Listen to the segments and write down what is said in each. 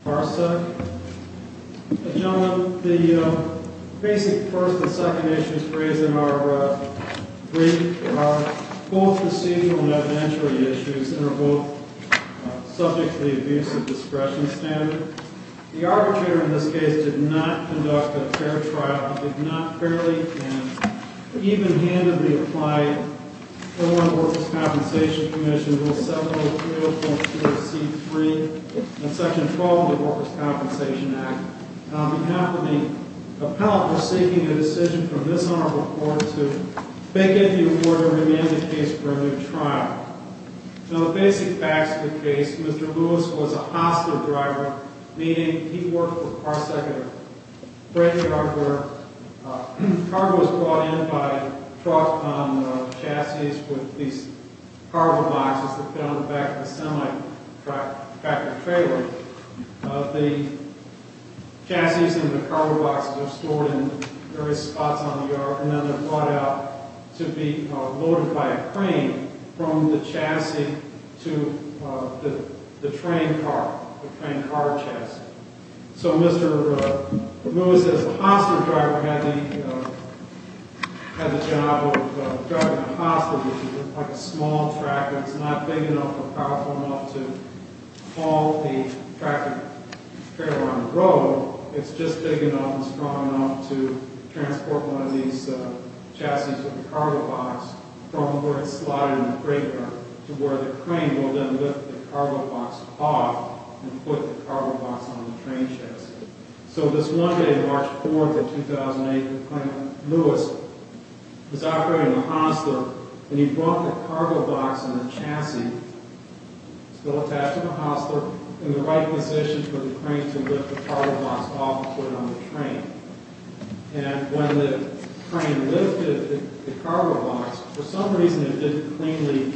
The Basic First and Second Issues raised in our brief are both procedural and evidentiary issues and are both subject to the Abusive Discretion Standard. The arbitrator in this case did not conduct a fair trial. He did not fairly and even-handedly apply to the Workers' Compensation Commission Rule 7030.2 of C.3 and Section 12 of the Workers' Compensation Act. On behalf of the appellant who is seeking a decision from this honorable court to vacate the order and remand the case for a new trial. Now the basic facts of the case, Mr. Lewis was a hostile driver, meaning he worked with Parsec at a freight yard where cargo was brought in by truck on chassis with these cargo boxes that fit on the back of a semi-tractor trailer. The chassis and the cargo boxes are stored in various spots on the yard and then they're brought out to be loaded by a crane from the chassis to the train car, the train car chassis. So Mr. Lewis, as a hostile driver, had the job of driving a hostile, which is like a small tractor. It's not big enough or powerful enough to haul the tractor trailer on the road. It's just big enough and strong enough to transport one of these chassis with a cargo box from where it's slotted in the freight car to where the crane will then lift the cargo box off and put the cargo box on the train chassis. So this Monday, March 4th of 2008, the appellant Lewis was operating a hostile and he brought the cargo box and the chassis still attached to the hostile in the right position for the crane to lift the cargo box off and put it on the train. And when the crane lifted the cargo box, for some reason it didn't cleanly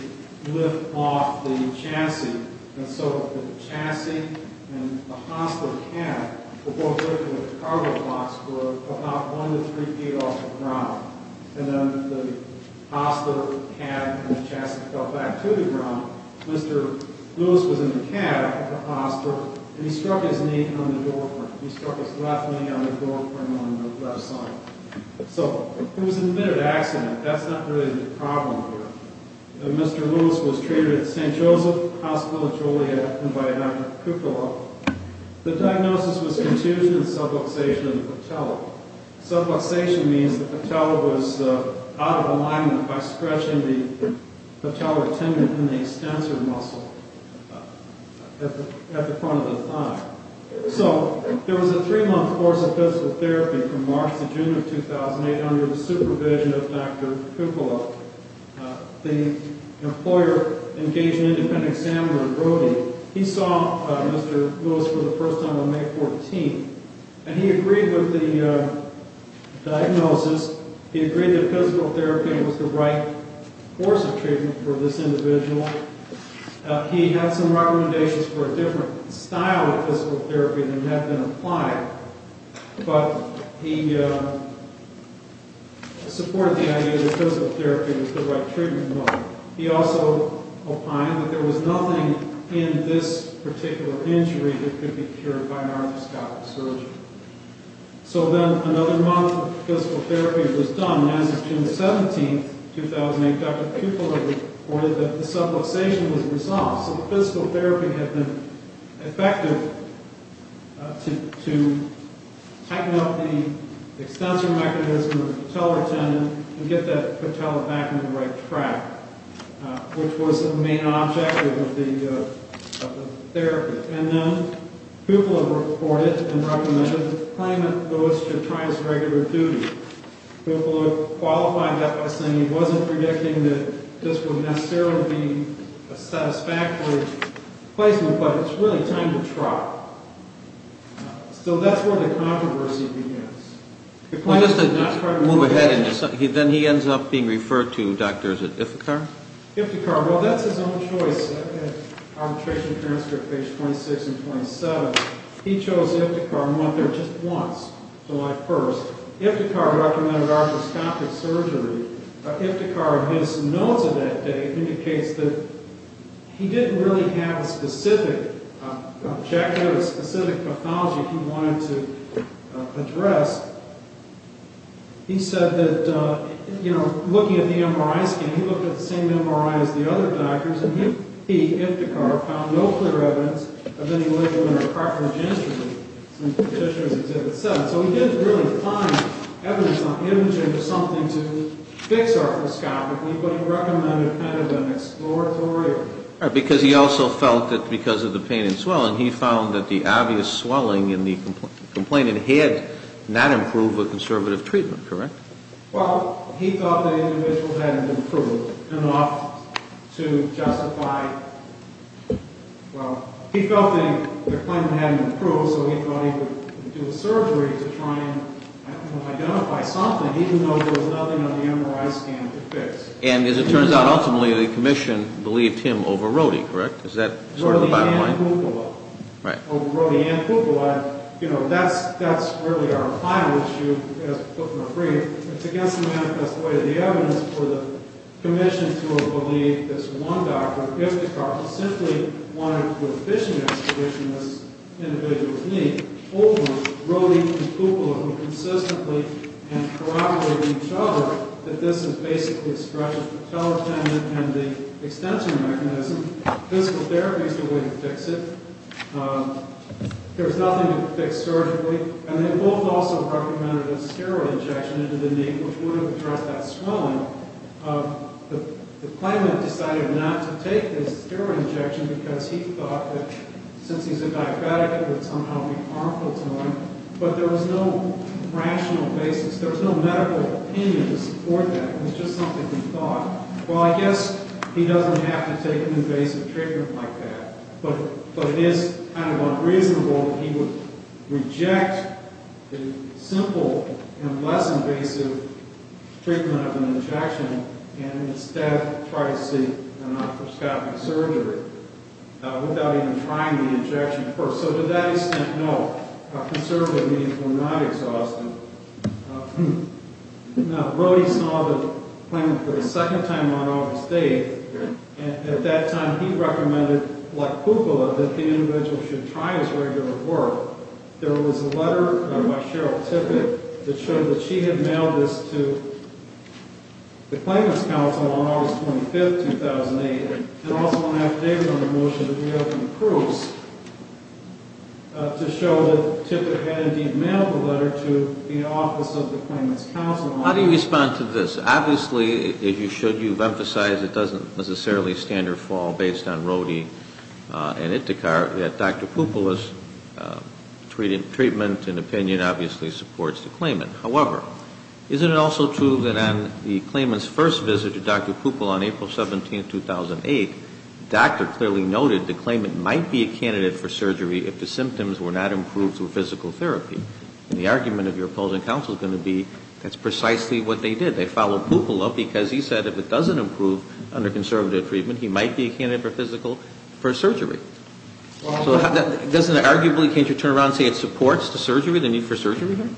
lift off the chassis and so the chassis and the hostile cab were both lifted and the cargo box were about one to three feet off the ground. And then the hostile cab and the chassis fell back to the ground. Mr. Lewis was in the cab, the hostile, and he struck his knee on the doorframe. He struck his left knee on the doorframe on the left side. So it was an admitted accident. That's not really the problem here. Mr. Lewis was treated at St. Joseph Hospital of Joliet and by Dr. Kukla. The diagnosis was contusion and subluxation of the patella. Subluxation means the patella was out of alignment by stretching the patellar tendon in the extensor muscle at the front of the thigh. So there was a three-month course of physical therapy from March to June of 2008 under the supervision of Dr. Kukla. The employer engaged an independent examiner in Brody. He saw Mr. Lewis for the first time on May 14th, and he agreed with the diagnosis. He agreed that physical therapy was the right course of treatment for this individual. He had some recommendations for a different style of physical therapy that had been applied, but he supported the idea that physical therapy was the right treatment. He also opined that there was nothing in this particular injury that could be cured by an arthroscopic surgeon. So then another month of physical therapy was done. On June 17th, 2008, Dr. Kukla reported that the subluxation was resolved. So physical therapy had been effective to tighten up the extensor mechanism of the patellar tendon and get that patella back on the right track, which was the main objective of the therapy. And then Kukla reported and recommended that the claimant goes to Triance Regular Duty. Kukla qualified that by saying he wasn't predicting that this would necessarily be a satisfactory placement, but it's really time to try. So that's where the controversy begins. The claimant did not try to move ahead and then he ends up being referred to doctors at Ithaca? Ithaca. Well, that's his own choice. Arbitration transcript page 26 and 27. He chose Ithaca and went there just once, July 1st. Ithaca recommended arthroscopic surgery. Ithaca, in his notes of that day, indicates that he didn't really have a specific objective, a specific pathology he wanted to address. He said that, you know, looking at the MRI scan, he looked at the same MRI as the other doctors, and he, Ithaca, found no clear evidence of any liver or carcinogenesis, as the petitioner's exhibit said. So he didn't really find evidence on imaging or something to fix arthroscopically, but he recommended a kind of an exploratory... Because he also felt that because of the pain and swelling, he found that the obvious swelling in the complainant had not improved with conservative treatment, correct? Well, he thought the individual hadn't improved enough to justify... Well, he felt that the claimant hadn't improved, so he thought he would do a surgery to try and identify something, even though there was nothing on the MRI scan to fix. And as it turns out, ultimately, the commission believed him over Rohde, correct? Is that sort of the bottom line? Rohde and Kupala. Right. Over Rohde and Kupala. And, you know, that's really our final issue, as put before you. It's against the manifest way of the evidence for the commission to have believed this one doctor, Ithaca, simply wanted to do a fishing expedition, this individual's need, over Rohde and Kupala, who consistently corroborated each other that this is basically a stretch of the patella tendon and the extension mechanism. Physical therapy is the way to fix it. There was nothing to fix surgically. And they both also recommended a steroid injection into the knee, which would have addressed that swelling. The claimant decided not to take this steroid injection because he thought that, since he's a diabetic, it would somehow be harmful to him. But there was no rational basis. There was no medical opinion to support that. It was just something he thought. Well, I guess he doesn't have to take an invasive treatment like that. But it is kind of unreasonable that he would reject the simple and less invasive treatment of an injection and instead try to seek an arthroscopic surgery without even trying the injection first. So to that extent, no, conservative means were not exhaustive. Now, Rohde saw the claimant for the second time on August 8. And at that time, he recommended, like Kupala, that the individual should try his regular work. There was a letter by Cheryl Tippett that showed that she had mailed this to the Claimant's Council on August 25, 2008. I also want to have David on the motion that we have from Cruz to show that Tippett had indeed mailed the letter to the office of the Claimant's Council. How do you respond to this? Obviously, if you should, you've emphasized it doesn't necessarily stand or fall based on Rohde and Itikhar. Dr. Kupala's treatment and opinion obviously supports the claimant. However, isn't it also true that on the claimant's first visit to Dr. Kupala on April 17, 2008, the doctor clearly noted the claimant might be a candidate for surgery if the symptoms were not improved through physical therapy? And the argument of your opposing counsel is going to be that's precisely what they did. They followed Kupala because he said if it doesn't improve under conservative treatment, he might be a candidate for physical, for surgery. So doesn't it arguably, can't you turn around and say it supports the surgery, the need for surgery here?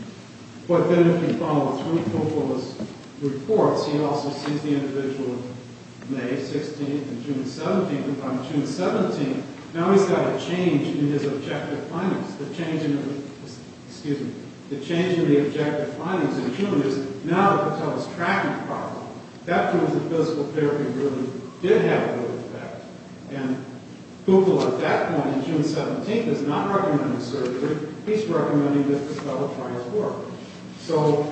But then if you follow through Kupala's reports, he also sees the individual May 16 and June 17. On June 17, now he's got a change in his objective findings. The change in the objective findings in June is now it tells us tracking power. That proves that physical therapy really did have a real effect. And Kupala at that point, June 17, is not recommending surgery. He's recommending that the fellow try his work. So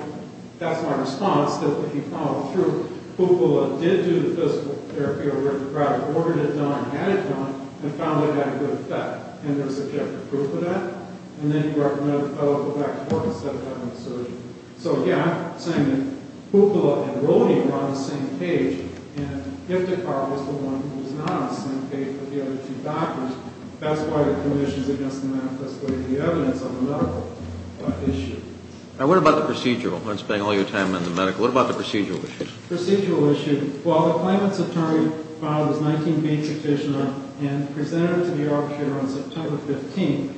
that's my response, that if you follow through, Kupala did do the physical therapy, or rather ordered it done, had it done, and found it had a good effect. And there's objective proof of that. And then he recommended the fellow go back to work instead of having the surgery. So, yeah, I'm saying that Kupala and Rode were on the same page. And Iftikhar was the one who was not on the same page with the other two doctors. That's why the conditions against the manifesto is the evidence on the medical issue. Now, what about the procedural? I'm not spending all your time on the medical. What about the procedural issue? Procedural issue. Well, the claimant's attorney filed his 19-page petition and presented it to the arbitrator on September 15.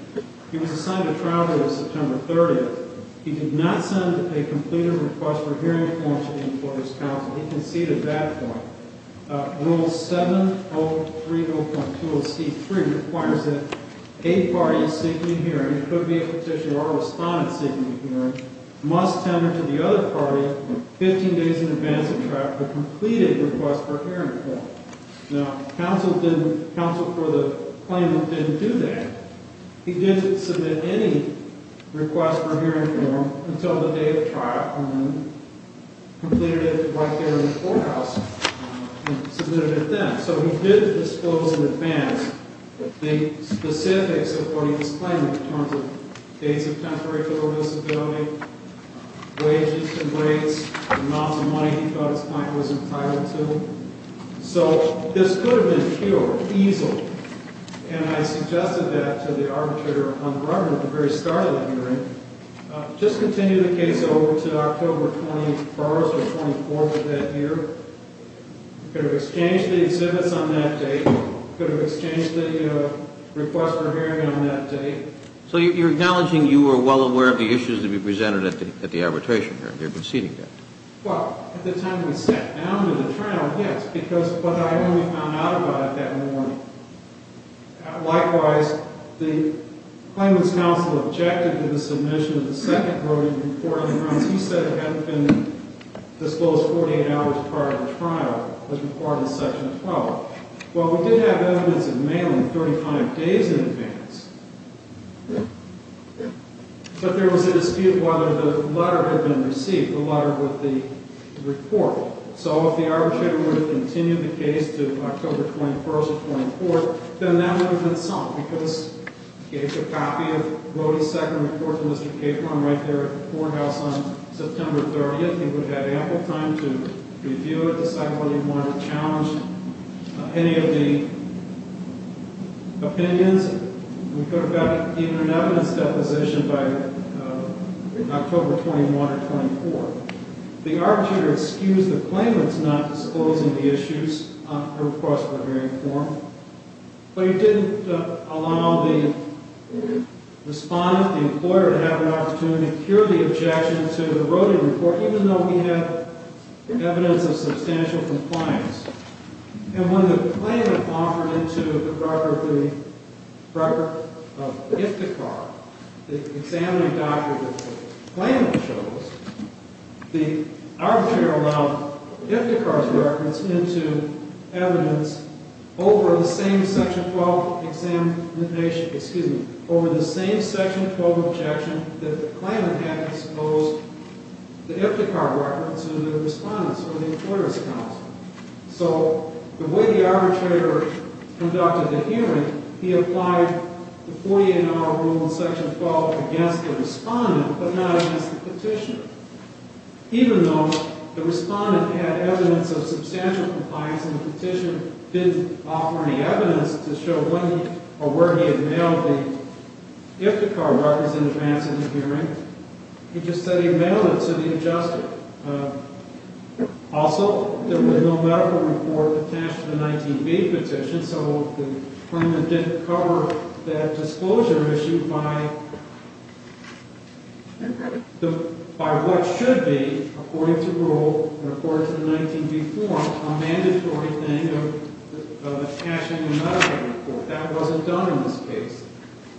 He was assigned a trial date of September 30. He did not send a completed request for hearing form to the employer's counsel. He conceded that point. Rule 7030.20C3 requires that a party seeking hearing, it could be a petitioner or a respondent seeking a hearing, must tender to the other party 15 days in advance of trial to complete a request for a hearing form. Now, counsel for the claimant didn't do that. He didn't submit any request for hearing form until the day of trial and then completed it right there in the courthouse and submitted it then. So he did disclose in advance the specifics of what he was claiming in terms of dates of temporary federal disability, wages and rates, amounts of money he thought his client was entitled to. So this could have been cured, easeled. And I suggested that to the arbitrator on the record at the very start of the hearing. Just continue the case over to October 24th of that year. Could have exchanged the exhibits on that date. Could have exchanged the request for hearing on that date. So you're acknowledging you were well aware of the issues that were presented at the arbitration hearing. You're conceding that. Well, at the time we stepped down to the trial, yes. But I only found out about it that morning. Likewise, the claimant's counsel objected to the submission of the second voting report. He said it hadn't been disclosed 48 hours prior to trial. It was reported in Section 12. Well, we did have evidence of mailing 35 days in advance. But there was a dispute whether the letter had been received, the letter with the report. So if the arbitrator were to continue the case to October 21st or 24th, then that would have been summed. Because he gave a copy of Rody's second report to Mr. Capron right there at the courthouse on September 30th. He would have ample time to review it, decide whether he wanted to challenge any of the opinions. We could have gotten even an evidence deposition by October 21st or 24th. The arbitrator excused the claimant's not disclosing the issues, her request for a hearing form. But he didn't allow the respondent, the employer, to have an opportunity to cure the objection to the Rody report, even though we have evidence of substantial compliance. And when the claimant offered into the record of Iftikhar, the examining doctor that the claimant chose, the arbitrator allowed Iftikhar's reference into evidence over the same Section 12 examination, excuse me, over the same Section 12 objection that the claimant had disclosed the Iftikhar reference to the respondents or the importer's counsel. So the way the arbitrator conducted the hearing, he applied the 48-hour rule in Section 12 against the respondent, but not against the petitioner. Even though the respondent had evidence of substantial compliance and the petitioner didn't offer any evidence to show when or where he had mailed the Iftikhar reference in advance of the hearing, he just said he had mailed it to the adjuster. Also, there was no medical report attached to the 19B petition, so the claimant didn't cover that disclosure issue by what should be, according to the rule, and according to the 19B form, a mandatory thing of attaching a medical report. That wasn't done in this case.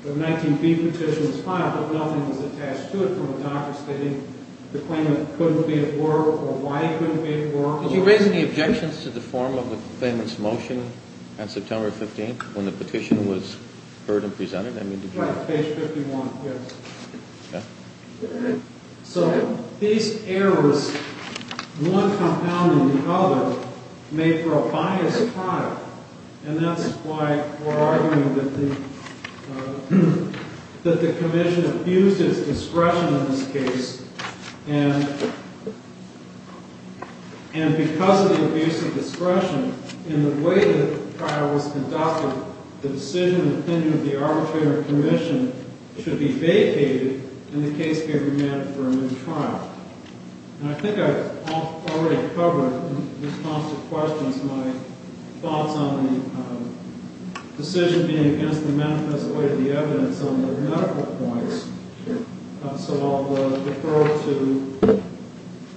The 19B petition was filed, but nothing was attached to it from the doctor stating the claimant couldn't be at work or why he couldn't be at work. Did you raise any objections to the form of the claimant's motion on September 15th when the petition was heard and presented? Right, page 51, yes. Okay. So these errors, one compounding the other, made for a biased product, and that's why we're arguing that the commission abused its discretion in this case, and because of the abuse of discretion, in the way the trial was conducted, the decision and opinion of the arbitrary commission should be vacated, and the case be remanded for a new trial. And I think I've already covered, in response to questions, my thoughts on the decision being against the manifest way of the evidence on the medical points, so I'll defer to the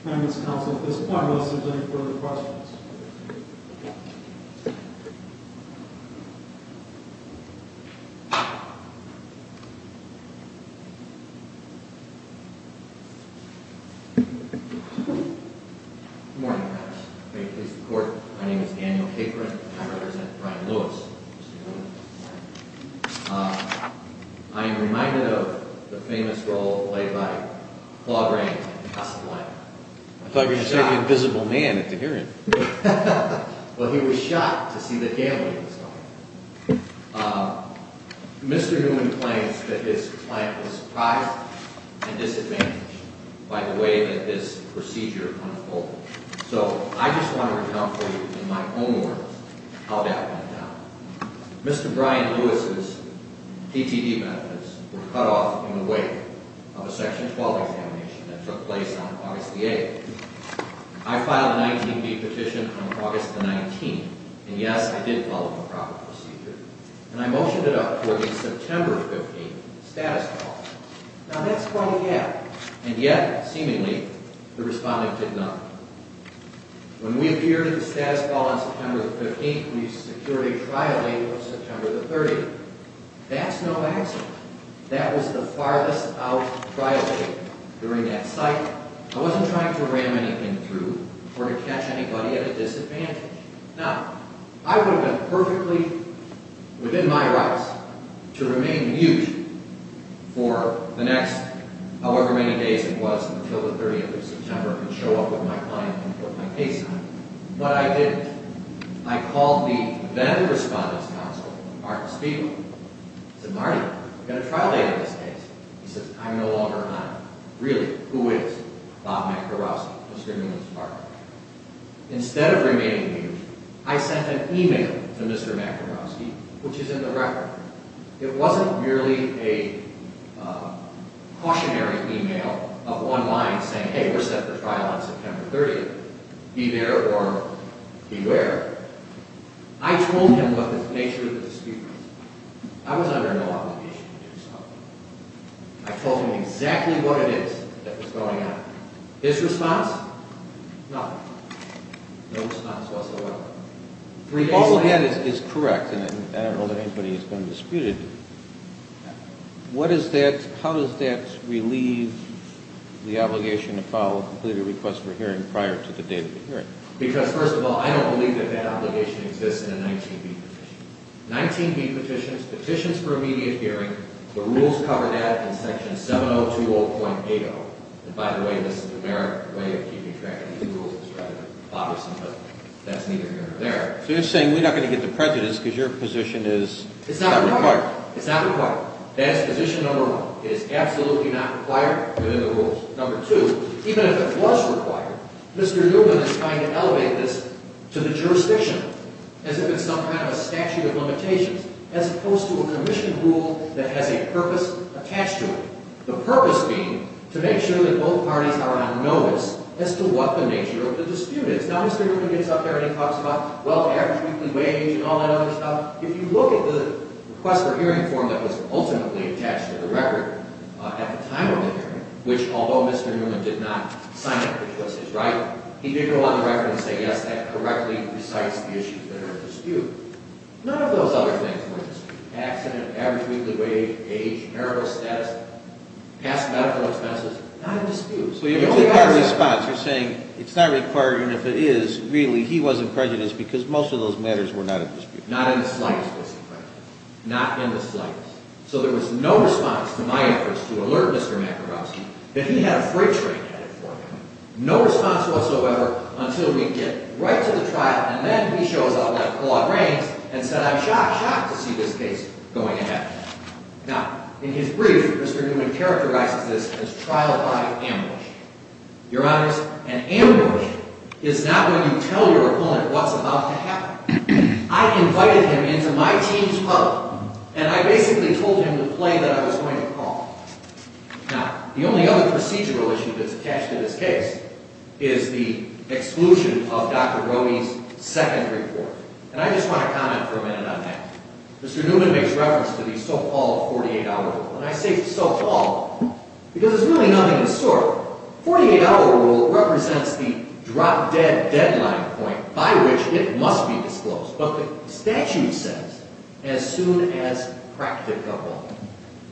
claimant's counsel at this point unless there's any further questions. Good morning, Your Honor. May it please the Court, my name is Daniel Capron, and I represent Brian Lewis. Mr. Newman. I am reminded of the famous role played by Claude Grant in Casablanca. I thought you were going to say the invisible man at the hearing. Well, he was shocked to see that Gail was involved. Mr. Newman claims that his client was surprised and disadvantaged by the way that this procedure unfolded. So I just want to recount for you, in my own words, how that went down. Mr. Brian Lewis's PTD benefits were cut off in the wake of a Section 12 examination that took place on August the 8th. I filed a 19B petition on August the 19th, and yes, I did follow the proper procedure, and I motioned it up for a September 15th status call. Now that's quite a gap, and yet, seemingly, the respondent did not. When we appeared at the status call on September the 15th, we secured a trial date of September the 30th. That's no accident. That was the farthest out trial date. During that site, I wasn't trying to ram anything through or to catch anybody at a disadvantage. Now, I would have been perfectly within my rights to remain mute for the next however many days it was until the 30th of September and show up with my client and put my case on, but I didn't. I called the then-respondent's counsel, Martin Spiegel. I said, Marty, we've got a trial date on this case. He says, I'm no longer on it. Really, who is? Bob McDermott, Mr. Newman's partner. Instead of remaining mute, I sent an email to Mr. McEnroski, which is in the record. It wasn't merely a cautionary email of one line saying, hey, we're set for trial on September 30th. Be there or beware. I told him what the nature of the dispute was. I was under no obligation to do so. I told him exactly what it is that was going on. His response? Nothing. No response whatsoever. If all of that is correct, and I don't know that anybody has been disputed, how does that relieve the obligation to file a completed request for hearing prior to the date of the hearing? Because, first of all, I don't believe that that obligation exists in a 19B petition. 19B petitions, petitions for immediate hearing, the rules cover that in Section 7020.80. And, by the way, this is an American way of keeping track of these rules. It's rather bothersome, but that's neither here nor there. So you're saying we're not going to get the prejudice because your position is not required. It's not required. It's not required. That's position number one. It is absolutely not required within the rules. Number two, even if it was required, Mr. Newman is trying to elevate this to the jurisdiction as if it's some kind of a statute of limitations, as opposed to a commission rule that has a purpose attached to it. The purpose being to make sure that both parties are on notice as to what the nature of the dispute is. Now, Mr. Newman gets up there and he talks about, well, average weekly wage and all that other stuff. If you look at the request for hearing form that was ultimately attached to the record at the time of the hearing, which, although Mr. Newman did not sign up for choices, right, he did go on the record and say, yes, that correctly recites the issues that are at dispute. None of those other things were at dispute. Accident, average weekly wage, age, marital status, past medical expenses, not at dispute. So you're taking our response. You're saying it's not required, and if it is, really, he wasn't prejudiced because most of those matters were not at dispute. Not in the slightest. Not in the slightest. So there was no response to my efforts to alert Mr. McEnroe that he had a freight train headed for him. No response whatsoever until we get right to the trial, and then he shows up like Claude Rains and said, I'm shocked, shocked to see this case going ahead. Now, in his brief, Mr. Newman characterizes this as trial by ambush. Your Honors, an ambush is not when you tell your opponent what's about to happen. I invited him into my team's club, and I basically told him the play that I was going to call. Now, the only other procedural issue that's attached to this case is the exclusion of Dr. Roney's second report. And I just want to comment for a minute on that. Mr. Newman makes reference to the so-called 48-hour rule. And I say so-called because there's really nothing to sort. The 48-hour rule represents the drop-dead deadline point by which it must be disclosed. But the statute says as soon as practicable.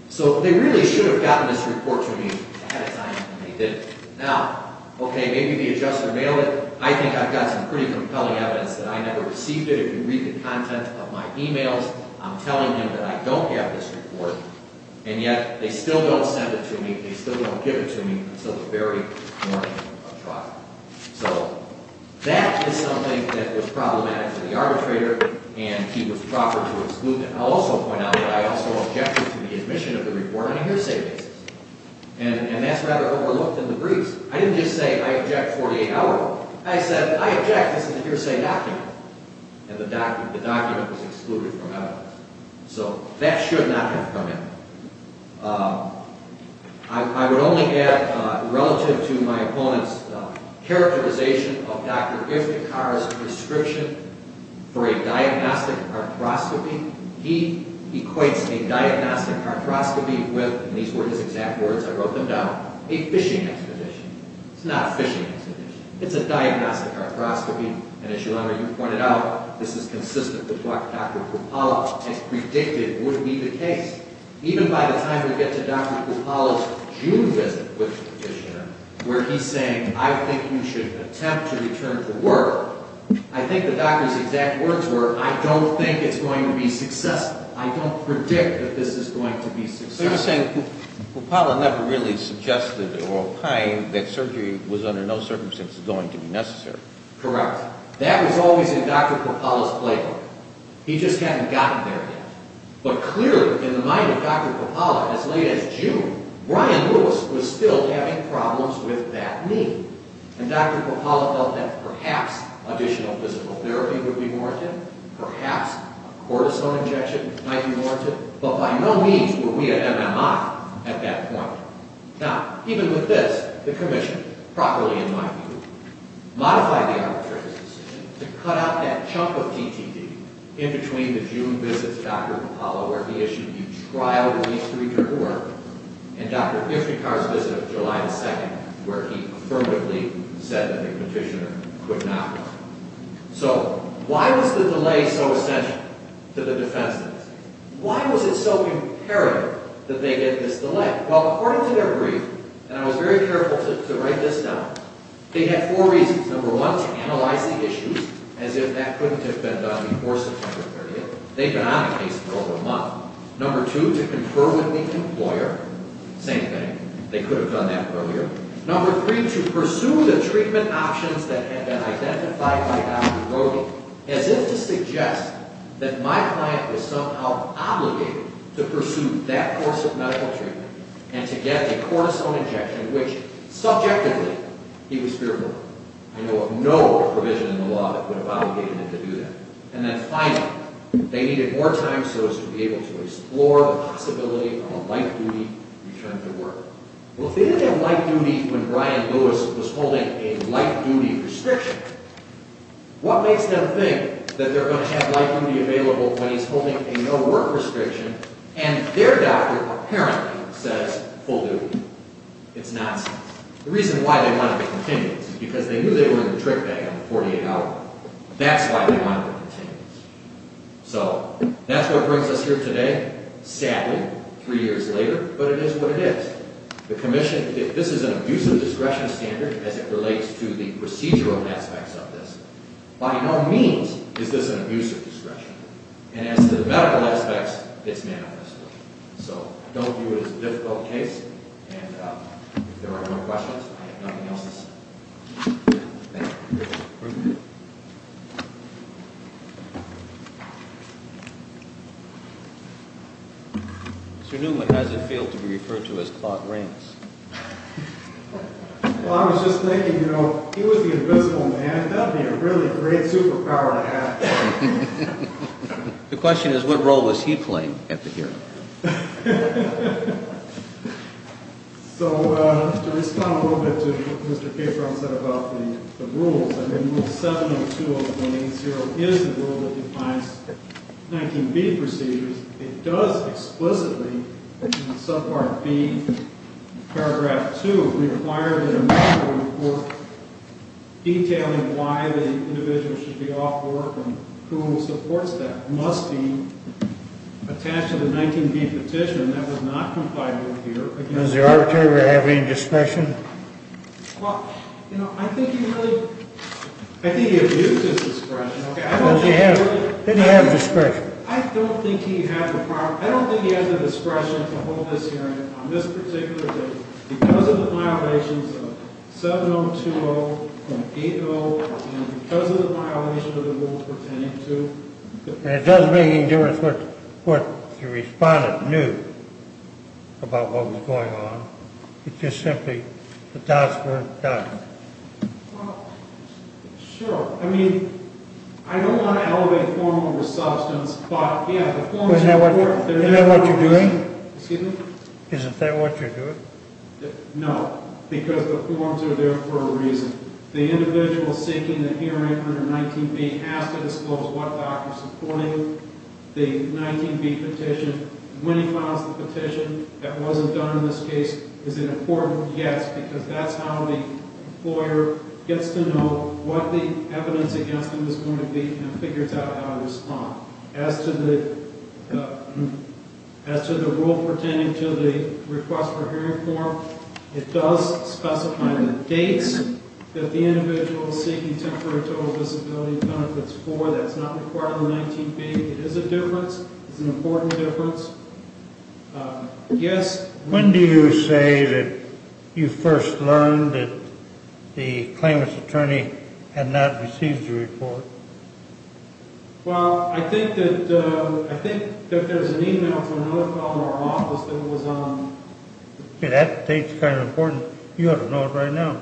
So they really should have gotten this report to me ahead of time, and they didn't. Now, okay, maybe the adjuster mailed it. I think I've got some pretty compelling evidence that I never received it. If you read the content of my e-mails, I'm telling them that I don't have this report. And yet, they still don't send it to me. They still don't give it to me until the very morning of trial. So that is something that was problematic to the arbitrator, and he was proper to exclude them. I'll also point out that I also objected to the admission of the report on a hearsay basis. And that's rather overlooked in the briefs. I didn't just say, I object 48-hour. I said, I object, this is a hearsay document. And the document was excluded from evidence. So that should not have come in. I would only add, relative to my opponent's characterization of Dr. Iftikhar's prescription for a diagnostic arthroscopy, he equates a diagnostic arthroscopy with, and these were his exact words, I wrote them down, a fishing expedition. It's not a fishing expedition. It's a diagnostic arthroscopy. And as you pointed out, this is consistent with what Dr. Krupala has predicted would be the case. Even by the time we get to Dr. Krupala's June visit with the petitioner, where he's saying, I think you should attempt to return to work, I think the doctor's exact words were, I don't think it's going to be successful. I don't predict that this is going to be successful. So you're saying Krupala never really suggested at all time that surgery was under no circumstance going to be necessary. Correct. That was always in Dr. Krupala's playbook. He just hadn't gotten there yet. But clearly, in the mind of Dr. Krupala, as late as June, Brian Lewis was still having problems with that knee. And Dr. Krupala felt that perhaps additional physical therapy would be warranted. Perhaps a cortisone injection might be warranted. But by no means were we at MMI at that point. Now, even with this, the commission, properly in my view, modified the arbitrator's decision to cut out that chunk of TTT in between the June visits with Dr. Krupala, where he issued the trial release to return to work, and Dr. Ishnikar's visit of July 2nd, where he affirmatively said that the petitioner could not. So why was the delay so essential to the defense? Why was it so imperative that they get this delay? Well, according to their brief, and I was very careful to write this down, they had four reasons. Number one, to analyze the issues as if that couldn't have been done before September 30th. They'd been on a case for over a month. Number two, to confer with the employer. Same thing. They could have done that earlier. Number three, to pursue the treatment options that had been identified by Dr. Brody, as if to suggest that my client was somehow obligated to pursue that course of medical treatment and to get a cortisone injection, which subjectively he was fearful of. I know of no provision in the law that would have obligated him to do that. And then finally, they needed more time so as to be able to explore the possibility of a light-duty return to work. Well, if they didn't have light-duty when Brian Lewis was holding a light-duty restriction, what makes them think that they're going to have light-duty available when he's holding a no-work restriction and their doctor apparently says full duty? It's nonsense. The reason why they wanted to continue is because they knew they were in the trick bag on the $48. That's why they wanted to continue. So that's what brings us here today. Sadly, three years later, but it is what it is. The commission, if this is an abusive discretion standard as it relates to the procedural aspects of this, by no means is this an abusive discretion. And as to the medical aspects, it's manifest. So don't view it as a difficult case. And if there are no more questions, I have nothing else to say. Thank you. Mr. Newman, how does it feel to be referred to as Claude Rains? Well, I was just thinking, you know, if he was the invisible man, that would be a really great superpower to have. The question is, what role was he playing at the hearing? So to respond a little bit to what Mr. Capron said about the rules, I mean, Rule 72 of 180 is the rule that defines 19B procedures. It does explicitly in subpart B, paragraph 2, require that a medical report detailing why the individual should be off work and who supports that must be attached to the 19B petition. That was not complied with here. Does the arbitrator have any discretion? Well, you know, I think he abused his discretion. Did he have discretion? I don't think he had the discretion to hold this hearing on this particular day because of the violations of 7020.80 and because of the violations of the rules pertaining to And it doesn't make any difference what the respondent knew about what was going on. It's just simply the dots were done. Well, sure. I mean, I don't want to elevate formal or substance, but, yeah, the forms of work Isn't that what you're doing? Excuse me? Isn't that what you're doing? No, because the forms are there for a reason. The individual seeking a hearing under 19B has to disclose what doctor is supporting the 19B petition. When he files the petition, that wasn't done in this case, is an important guess because that's how the employer gets to know what the evidence against him is going to be and figures out how to respond. As to the rule pertaining to the request for hearing form, it does specify the dates that the individual is seeking temporary total disability benefits for. That's not required in the 19B. It is a difference. It's an important difference. Yes? When do you say that you first learned that the claimant's attorney had not received the report? Well, I think that there's an e-mail from another fellow in our office that was on That date's kind of important. You ought to know it right now.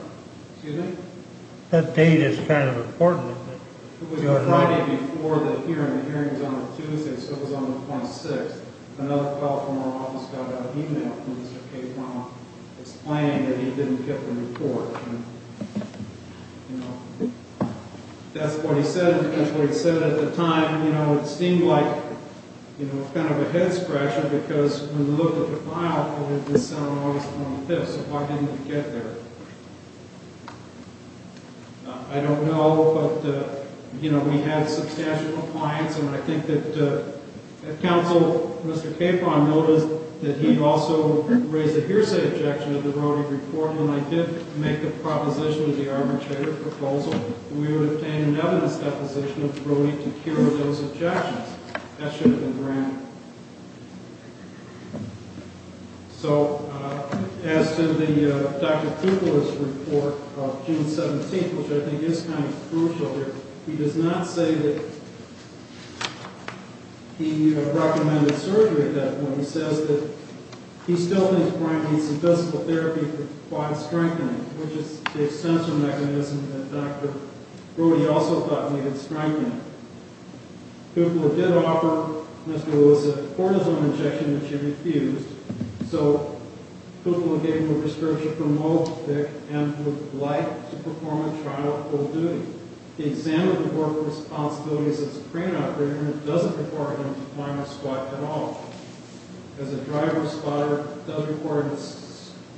Excuse me? That date is kind of important. It was the Friday before the hearing. The hearing was on a Tuesday, so it was on the 26th. Another fellow from our office got out an e-mail from Mr. Capron explaining that he didn't get the report. That's what he said. That's what he said at the time. It seemed like kind of a head-scratcher because when we looked at the file, it did sound like it was on the 5th, so why didn't he get there? I don't know, but we had substantial compliance, and I think that counsel, Mr. Capron, noticed that he'd also raised a hearsay objection to the Brody report. When I did make the proposition of the arbitrator proposal, we would obtain an evidence deposition of Brody to cure those objections. That should have been granted. So, as to Dr. Kuechler's report of June 17th, which I think is kind of crucial here, he does not say that he recommended surgery at that point. He says that he still thinks Bryant needs some physical therapy for quad strengthening, which is the essential mechanism that Dr. Brody also thought needed strengthening. Kuechler did offer Mr. Elizabeth a cortisone injection, which she refused, so Kuechler gave him a prescription for Molotovic and would like to perform a trial of full duty. He examined the work responsibilities as a crane operator, and it doesn't require him to climb a squat at all. As a driver-squatter, it does require him to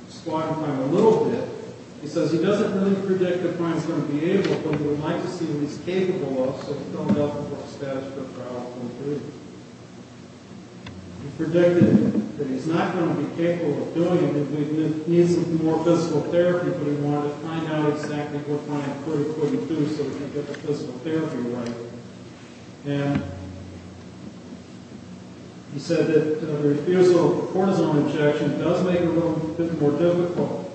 squat and climb a little bit. He says he doesn't really predict if Bryant's going to be able, but he would like to see what he's capable of, so he filled out the status of the trial of full duty. He predicted that he's not going to be capable of doing it if he needs some more physical therapy, but he wanted to find out exactly what Bryant couldn't do so he could get the physical therapy right. And he said that the refusal of the cortisone injection does make it a little bit more difficult,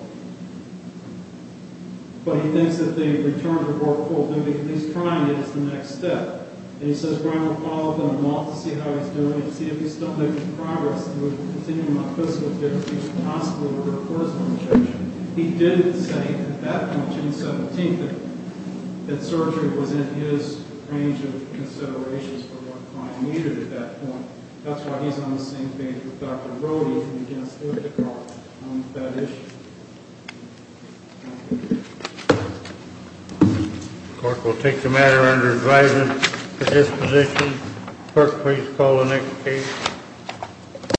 but he thinks that the return to work full duty, if he's trying it, is the next step. And he says Bryant will follow up in a month to see how he's doing and see if he's still making progress with receiving a physical therapy, possibly with a cortisone injection. He did say at that point, June 17th, that surgery was in his range of considerations for what Bryant needed at that point. That's why he's on the same page with Dr. Brody on that issue. Thank you. The court will take the matter under advisory for disposition. Clerk, please call the next case.